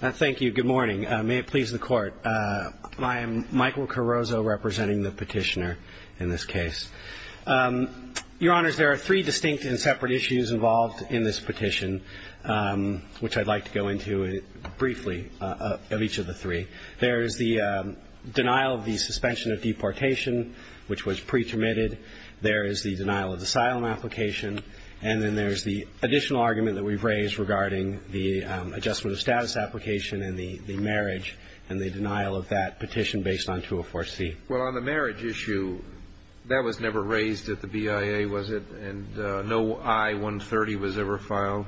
Thank you. Good morning. May it please the Court. I am Michael Carrozzo representing the petitioner in this case. Your Honors, there are three distinct and separate issues involved in this petition, which I'd like to go into briefly of each of the three. There is the denial of the suspension of deportation, which was pre-permitted. There is the denial of the asylum application. And then there's the additional argument that we've raised regarding the adjustment of status application and the marriage, and the denial of that petition based on 204C. Well, on the marriage issue, that was never raised at the BIA, was it? And no I-130 was ever filed?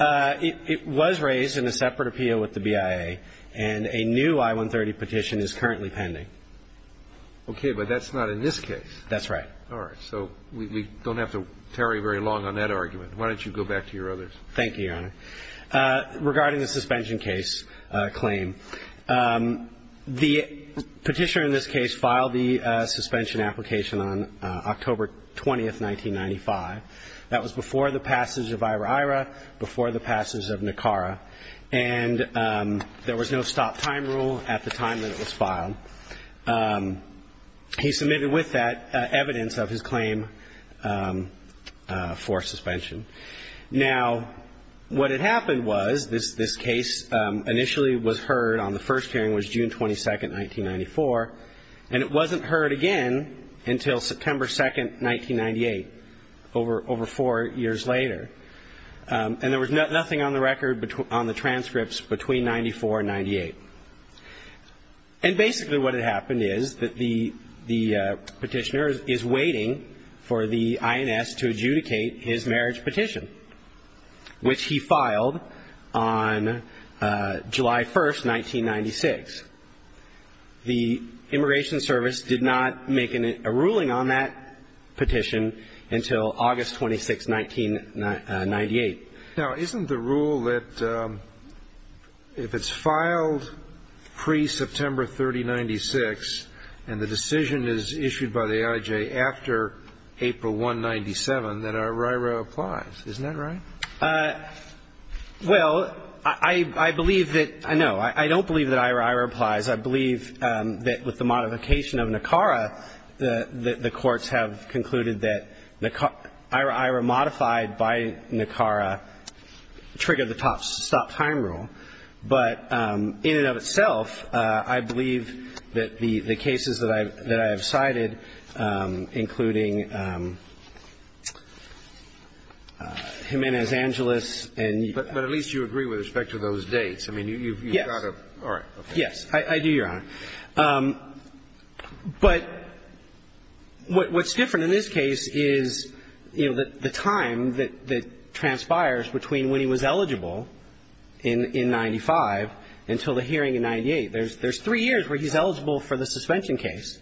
It was raised in a separate appeal with the BIA, and a new I-130 petition is currently pending. Okay, but that's not in this case. That's right. All right. So we don't have to tarry very long on that argument. Why don't you go back to your others? Thank you, Your Honor. Regarding the suspension case claim, the petitioner in this case filed the suspension application on October 20, 1995. That was before the passage of IRAIRA, before the passage of NACARA, and there was no stop-time rule at the time that it was filed. He submitted with that evidence of his claim for suspension. Now, what had happened was this case initially was heard on the first hearing, which was June 22, 1994, and it wasn't heard again until September 2, 1998, over four years later. And there was nothing on the record on the transcripts between 94 and 98. And basically what had happened is that the petitioner is waiting for the INS to adjudicate his marriage petition, which he filed on July 1, 1996. The Immigration Service did not make a ruling on that petition until August 26, 1998. Now, isn't the rule that if it's filed pre-September 30, 1996 and the decision is issued by the I.J. after April 1, 1997, that IRAIRA applies? Isn't that right? Well, I believe that no, I don't believe that IRAIRA applies. I believe that with the modification of NACARA, the courts have concluded that IRAIRA modified by NACARA triggered the stop-time rule. But in and of itself, I believe that the cases that I have cited, including Jimenez-Angeles and you've got to go back to those dates. But at least you agree with respect to those dates. I mean, you've got to. Yes. All right. I do, Your Honor. But what's different in this case is, you know, the time that transpires between when he was eligible in 95 until the hearing in 98. There's three years where he's eligible for the suspension case.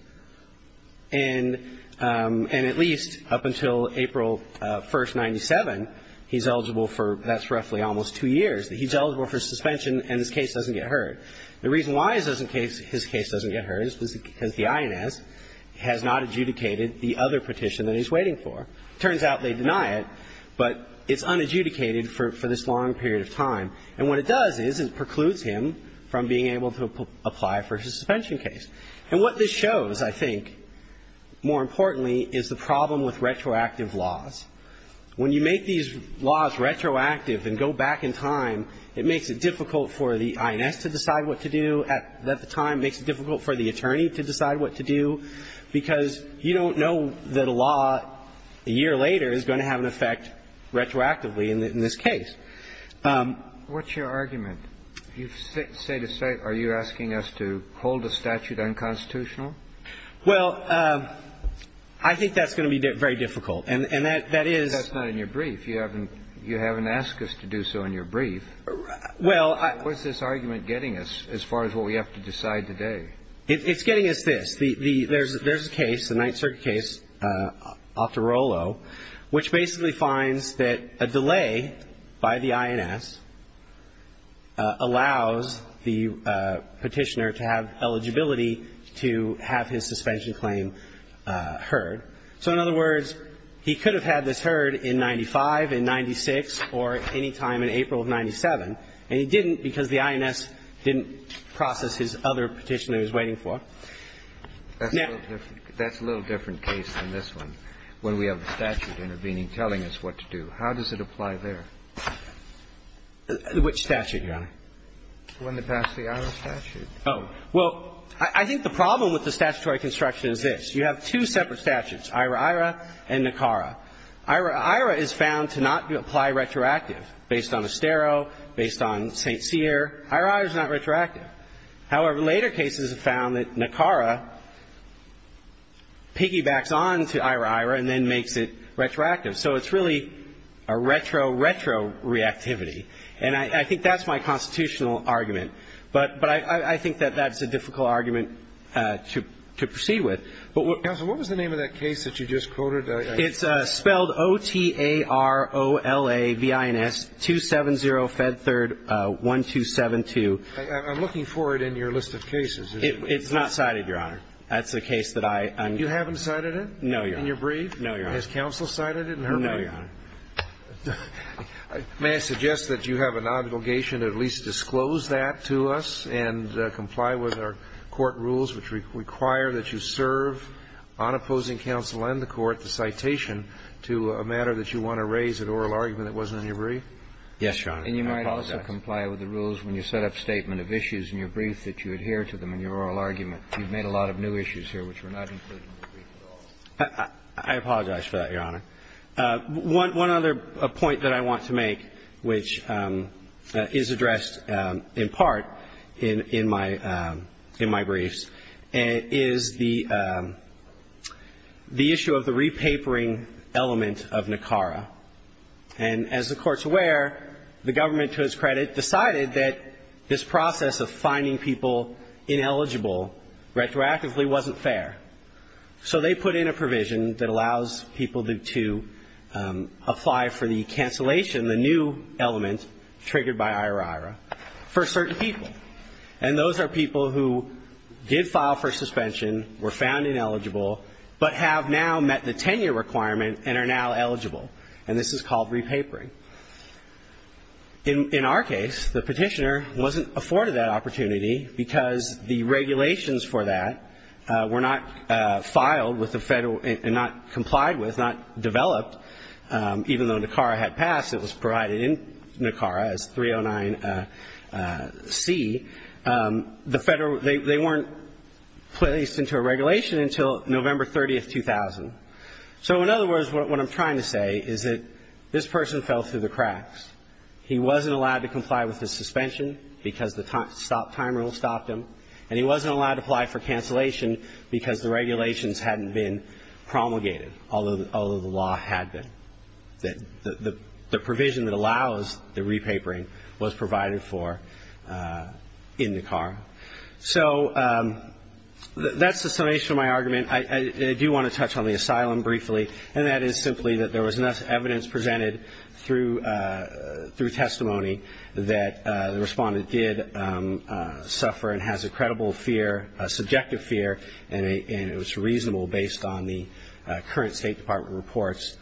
And at least up until April 1, 1997, he's eligible for, that's roughly almost two years, that he's eligible for suspension and his case doesn't get heard. The reason why his case doesn't get heard is because the INS has not adjudicated the other petition that he's waiting for. It turns out they deny it, but it's unadjudicated for this long period of time. And what it does is it precludes him from being able to apply for his suspension case. And what this shows, I think, more importantly, is the problem with retroactive laws. When you make these laws retroactive and go back in time, it makes it difficult for the INS to decide what to do. At the time, it makes it difficult for the attorney to decide what to do, because you don't know that a law a year later is going to have an effect retroactively in this case. What's your argument? Are you asking us to hold a statute unconstitutional? Well, I think that's going to be very difficult. And that is That's not in your brief. You haven't asked us to do so in your brief. What's this argument getting us as far as what we have to decide today? It's getting us this. There's a case, the Ninth Circuit case, Octorolo, which basically finds that a delay by the INS allows the petitioner to have eligibility to have his suspension claim heard. So, in other words, he could have had this heard in 95, in 96, or any time in April of 97, and he didn't, because the INS didn't process his other petitioner he was waiting for. Now That's a little different case than this one, when we have the statute intervening, telling us what to do. How does it apply there? Which statute, Your Honor? When they pass the IRA statute. Oh. Well, I think the problem with the statutory construction is this. You have two separate statutes, IRA-IRA and NACARA. IRA-IRA is found to not apply retroactive, based on Estero, based on St. Cyr. IRA-IRA is not retroactive. However, later cases have found that NACARA piggybacks on to IRA-IRA and then makes it retroactive. So it's really a retro-retro reactivity. And I think that's my constitutional argument. But I think that that's a difficult argument to proceed with. Counsel, what was the name of that case that you just quoted? It's spelled O-T-A-R-O-L-A-V-I-N-S-270-Fed3-1272. I'm looking for it in your list of cases. It's not cited, Your Honor. That's the case that I unquote. You haven't cited it? No, Your Honor. In your brief? No, Your Honor. Has counsel cited it in her brief? No, Your Honor. May I suggest that you have an obligation to at least disclose that to us and comply with our court rules which require that you serve on opposing counsel and the court the citation to a matter that you want to raise, an oral argument that wasn't in your brief? Yes, Your Honor. I apologize. And you might also comply with the rules when you set up statement of issues in your brief that you adhere to them in your oral argument. You've made a lot of new issues here which were not included in your brief at all. I apologize for that, Your Honor. One other point that I want to make, which is addressed in part in my briefs, is the issue of the repapering element of NACARA. And as the Court's aware, the government, to its credit, decided that this process of finding people ineligible retroactively wasn't fair. So they put in a provision that allows people to apply for the cancellation, the new element triggered by IORIRA, for certain people. And those are people who did file for suspension, were found ineligible, but have now met the tenure requirement and are now eligible. And this is called repapering. In our case, the petitioner wasn't afforded that opportunity because the regulations for that were not filed and not complied with, not developed, even though NACARA had passed. It was provided in NACARA as 309C. They weren't placed into a regulation until November 30, 2000. So in other words, what I'm trying to say is that this person fell through the cracks. He wasn't allowed to comply with his suspension because the stop time rule stopped him, and he wasn't allowed to apply for cancellation because the regulations hadn't been promulgated, although the law had been. The provision that allows the repapering was provided for in NACARA. So that's the summation of my argument. I do want to touch on the asylum briefly, and that is simply that there was enough evidence presented through testimony that the Respondent did suffer and has a credible fear, subjective fear, and it was reasonable based on the current State Department reports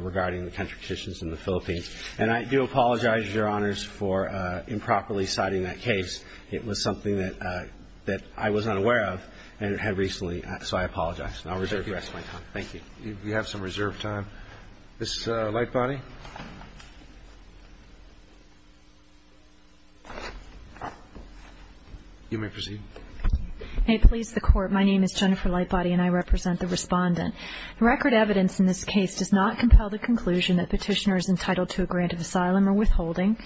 regarding the country petitions in the Philippines. And I do apologize, Your Honors, for improperly citing that case. It was something that I was unaware of and had recently, so I apologize. And I'll reserve the rest of my time. Thank you. Roberts. You have some reserved time. Ms. Lightbody. You may proceed. May it please the Court. My name is Jennifer Lightbody, and I represent the Respondent. The record evidence in this case does not compel the conclusion that Petitioner is entitled to a grant of asylum or withholding.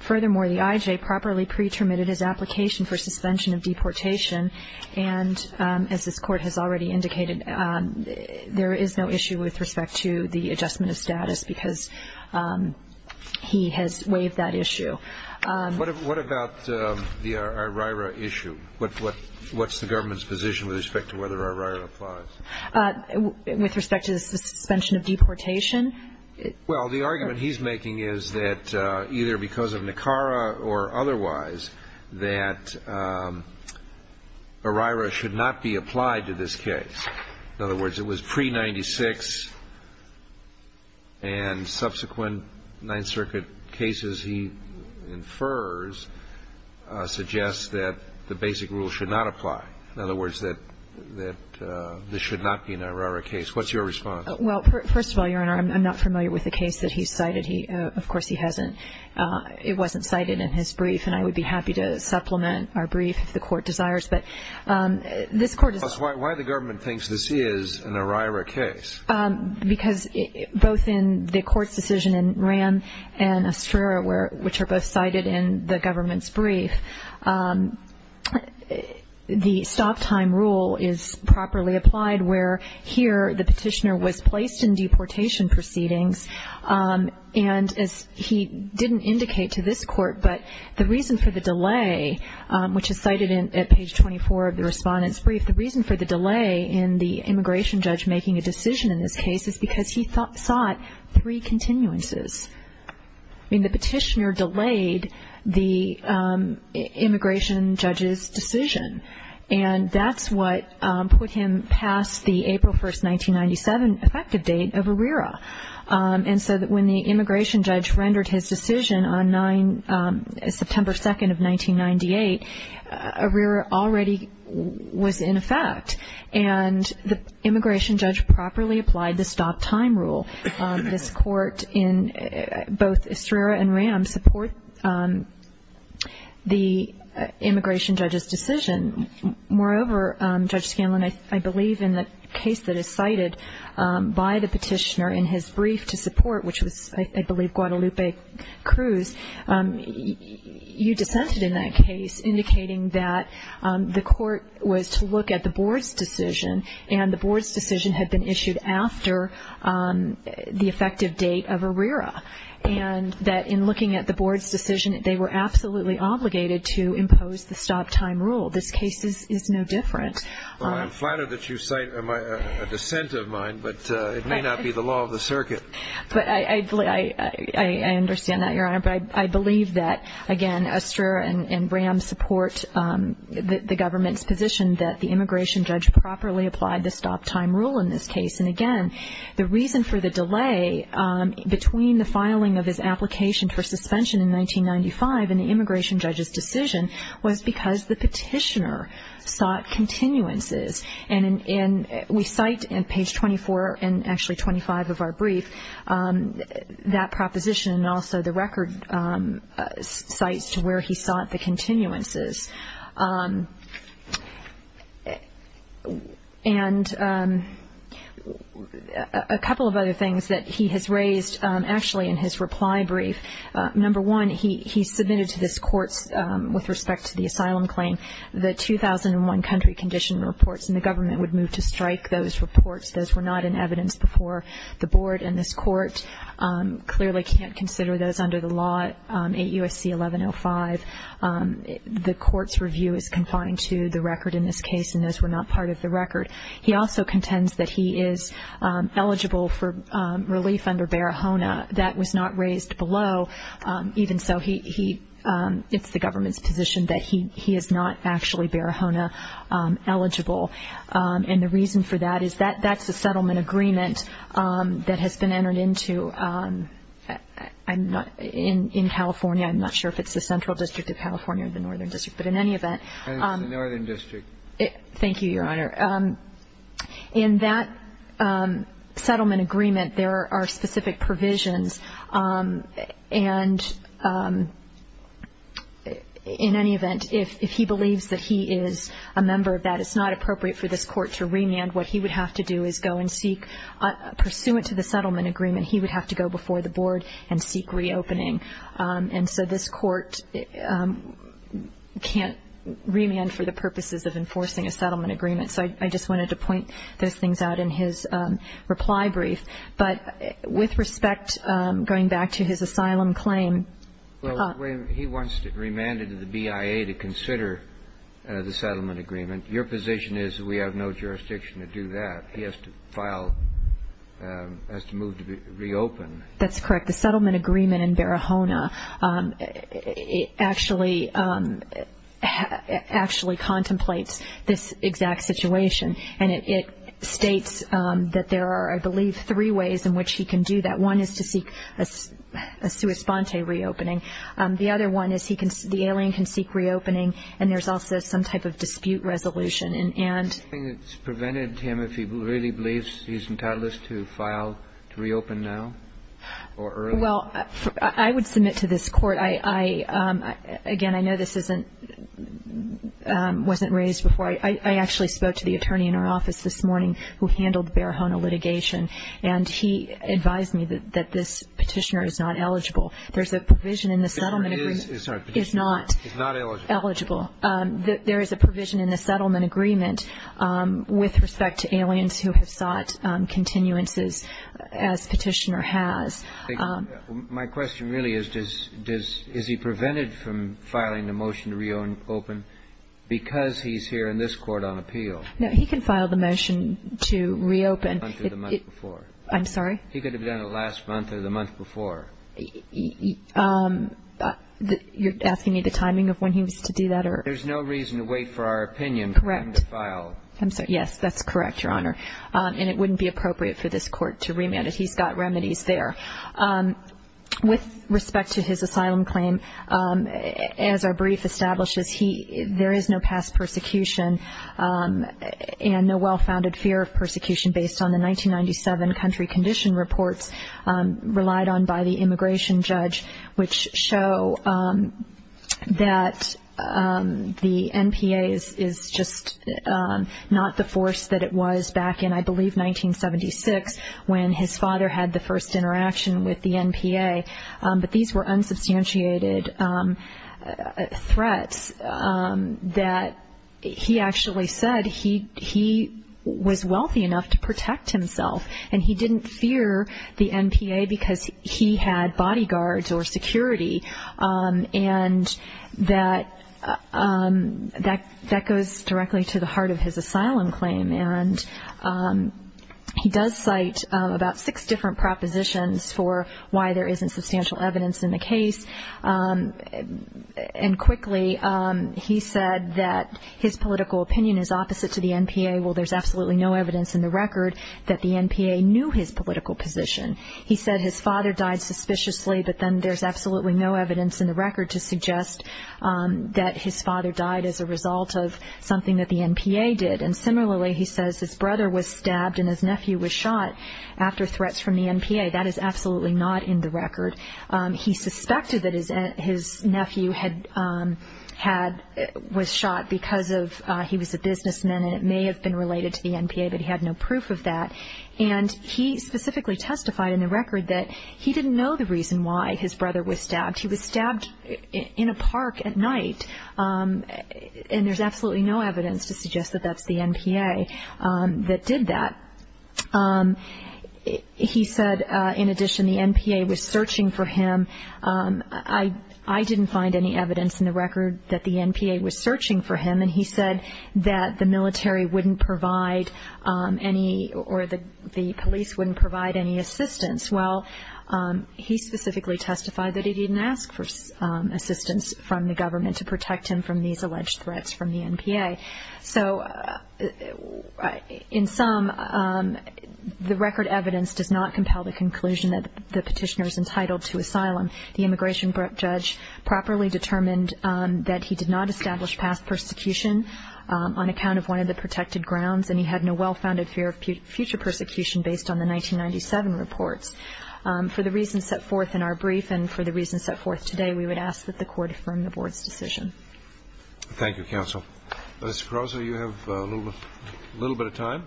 Furthermore, the IJ properly pretermitted his application for suspension of deportation, and as this Court has already indicated, there is no issue with respect to the adjustment of status because he has waived that issue. What about the IRIRA issue? What's the government's position with respect to whether IRIRA applies? With respect to the suspension of deportation? Well, the argument he's making is that either because of NACARA or otherwise, that IRIRA should not be applied to this case. In other words, it was pre-'96, and subsequent Ninth Circuit cases he infers suggest that the basic rule should not apply. In other words, that this should not be an IRIRA case. What's your response? Well, first of all, Your Honor, I'm not familiar with the case that he cited. Of course, he hasn't. It wasn't cited in his brief, and I would be happy to supplement our brief if the Court desires. Why the government thinks this is an IRIRA case? Because both in the Court's decision in Ram and Estrera, which are both cited in the government's brief, the stop-time rule is properly applied where here the petitioner was placed in deportation proceedings, and as he didn't indicate to this Court, but the reason for the delay, which is cited at page 24 of the respondent's brief, the reason for the delay in the immigration judge making a decision in this case is because he sought three continuances. I mean, the petitioner delayed the immigration judge's decision, and that's what put him past the April 1, 1997, effective date of IRIRA. And so when the immigration judge rendered his decision on September 2, 1998, IRIRA already was in effect, and the immigration judge properly applied the stop-time rule. This Court in both Estrera and Ram supports the immigration judge's decision. Moreover, Judge Scanlon, I believe in the case that is cited by the petitioner in his brief to support, which was, I believe, Guadalupe Cruz, you dissented in that case, indicating that the Court was to look at the Board's decision, and the Board's decision had been issued after the effective date of IRIRA, and that in looking at the Board's decision, they were absolutely obligated to impose the stop-time rule. This case is no different. Well, I'm flattered that you cite a dissent of mine, but it may not be the law of the circuit. But I understand that, Your Honor. But I believe that, again, Estrera and Ram support the government's position that the immigration judge properly applied the stop-time rule in this case. And, again, the reason for the delay between the filing of his application for suspension in 1995 and the immigration judge's decision was because the petitioner sought continuances. And we cite in page 24, and actually 25 of our brief, that proposition, and also the record cites to where he sought the continuances. And a couple of other things that he has raised, actually, in his reply brief. Number one, he submitted to this Court, with respect to the asylum claim, the 2001 country condition reports, and the government would move to strike those reports. Those were not in evidence before the Board and this Court. Clearly can't consider those under the law, 8 U.S.C. 1105. The Court's review is confined to the record in this case, and those were not part of the record. He also contends that he is eligible for relief under Barahona. That was not raised below. Even so, it's the government's position that he is not actually Barahona eligible. And the reason for that is that that's a settlement agreement that has been entered into in California. I'm not sure if it's the Central District of California or the Northern District, but in any event. And it's the Northern District. Thank you, Your Honor. In that settlement agreement, there are specific provisions. And in any event, if he believes that he is a member of that, it's not appropriate for this Court to remand. What he would have to do is go and seek, pursuant to the settlement agreement, he would have to go before the Board and seek reopening. And so this Court can't remand for the purposes of enforcing a settlement agreement. So I just wanted to point those things out in his reply brief. But with respect, going back to his asylum claim. Well, he wants to remand it to the BIA to consider the settlement agreement. Your position is we have no jurisdiction to do that. He has to move to reopen. That's correct. But the settlement agreement in Barahona actually contemplates this exact situation. And it states that there are, I believe, three ways in which he can do that. One is to seek a sua sponte reopening. The other one is the alien can seek reopening, and there's also some type of dispute resolution. Is there something that's prevented him if he really believes he's entitled to file to reopen now or earlier? Well, I would submit to this Court. Again, I know this wasn't raised before. I actually spoke to the attorney in our office this morning who handled Barahona litigation, and he advised me that this Petitioner is not eligible. There's a provision in the settlement agreement. Sorry, Petitioner is not eligible. There is a provision in the settlement agreement with respect to aliens who have sought continuances as Petitioner has. My question really is, is he prevented from filing a motion to reopen because he's here in this Court on appeal? No, he can file the motion to reopen. The month before. I'm sorry? He could have done it last month or the month before. You're asking me the timing of when he was to do that? There's no reason to wait for our opinion for him to file. Correct. I'm sorry. Yes, that's correct, Your Honor. And it wouldn't be appropriate for this Court to remand it. He's got remedies there. With respect to his asylum claim, as our brief establishes, there is no past persecution and no well-founded fear of persecution based on the 1997 country condition reports relied on by the immigration judge, which show that the NPA is just not the force that it was back in, I believe, 1976, when his father had the first interaction with the NPA. But these were unsubstantiated threats that he actually said he was wealthy enough to protect himself, and he didn't fear the NPA because he had bodyguards or security. And that goes directly to the heart of his asylum claim. And he does cite about six different propositions for why there isn't substantial evidence in the case. And quickly, he said that his political opinion is opposite to the NPA. Well, there's absolutely no evidence in the record that the NPA knew his political position. He said his father died suspiciously, but then there's absolutely no evidence in the record to suggest that his father died as a result of something that the NPA did. And similarly, he says his brother was stabbed and his nephew was shot after threats from the NPA. That is absolutely not in the record. He suspected that his nephew was shot because he was a businessman, and it may have been related to the NPA, but he had no proof of that. And he specifically testified in the record that he didn't know the reason why his brother was stabbed. He was stabbed in a park at night, and there's absolutely no evidence to suggest that that's the NPA that did that. He said, in addition, the NPA was searching for him. I didn't find any evidence in the record that the NPA was searching for him, and he said that the military wouldn't provide any or the police wouldn't provide any assistance. Well, he specifically testified that he didn't ask for assistance from the government to protect him from these alleged threats from the NPA. So in sum, the record evidence does not compel the conclusion that the petitioner is entitled to asylum. The immigration judge properly determined that he did not establish past persecution on account of one of the protected grounds, and he had no well-founded fear of future persecution based on the 1997 reports. For the reasons set forth in our brief and for the reasons set forth today, we would ask that the Court affirm the Board's decision. Thank you, counsel. Mr. Caruso, you have a little bit of time.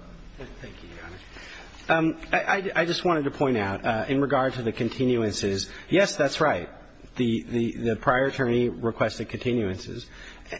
Thank you, Your Honor. I just wanted to point out, in regard to the continuances, yes, that's right. The prior attorney requested continuances.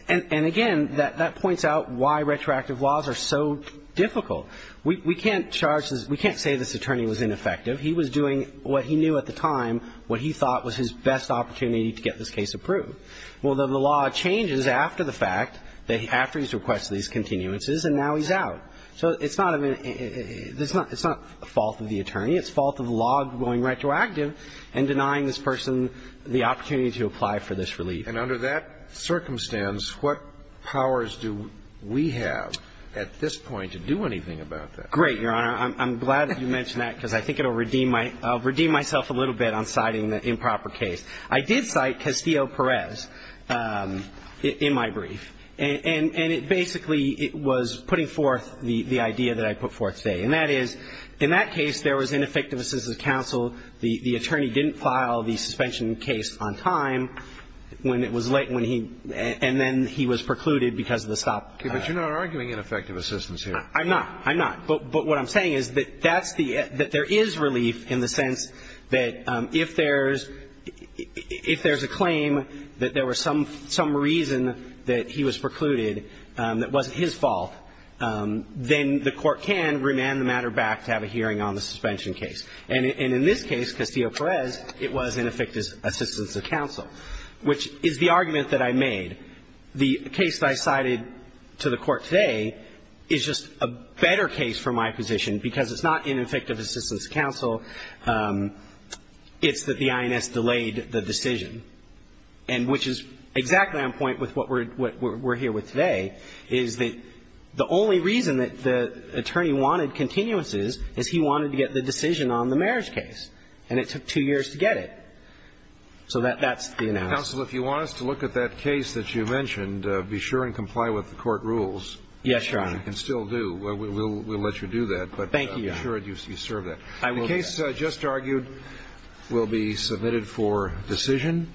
And again, that points out why retroactive laws are so difficult. We can't charge this. We can't say this attorney was ineffective. He was doing what he knew at the time, what he thought was his best opportunity to get this case approved. Well, the law changes after the fact, after he's requested these continuances, and now he's out. So it's not a fault of the attorney. It's fault of the law going retroactive and denying this person the opportunity to apply for this relief. And under that circumstance, what powers do we have at this point to do anything about that? Great, Your Honor. I'm glad that you mentioned that because I think it will redeem my – I'll redeem myself a little bit on citing the improper case. I did cite Castillo-Perez in my brief, and it basically – it was putting forth the idea that I put forth today. And that is, in that case, there was ineffective assistance of counsel. The attorney didn't file the suspension case on time. When it was late, when he – and then he was precluded because of the stop. Okay, but you're not arguing ineffective assistance here. I'm not. I'm not. But what I'm saying is that that's the – that there is relief in the sense that if there's – if there's a claim that there was some reason that he was precluded that wasn't his fault, then the court can remand the matter back to have a hearing on the suspension case. It is a case that was delayed, and that's because it's not ineffective assistance of counsel, which is the argument that I made. The case that I cited to the Court today is just a better case for my position because it's not ineffective assistance of counsel. It's that the INS delayed the decision. And which is exactly on point with what we're here with today, is that the only reason that the attorney wanted continuances is he wanted to get the decision on the marriage case, and it took two years to get it. So that's the analysis. Counsel, if you want us to look at that case that you mentioned, be sure and comply with the court rules. Yes, Your Honor. Which you can still do. We'll let you do that. Thank you, Your Honor. But be sure you serve that. I will do that. The case just argued will be submitted for decision.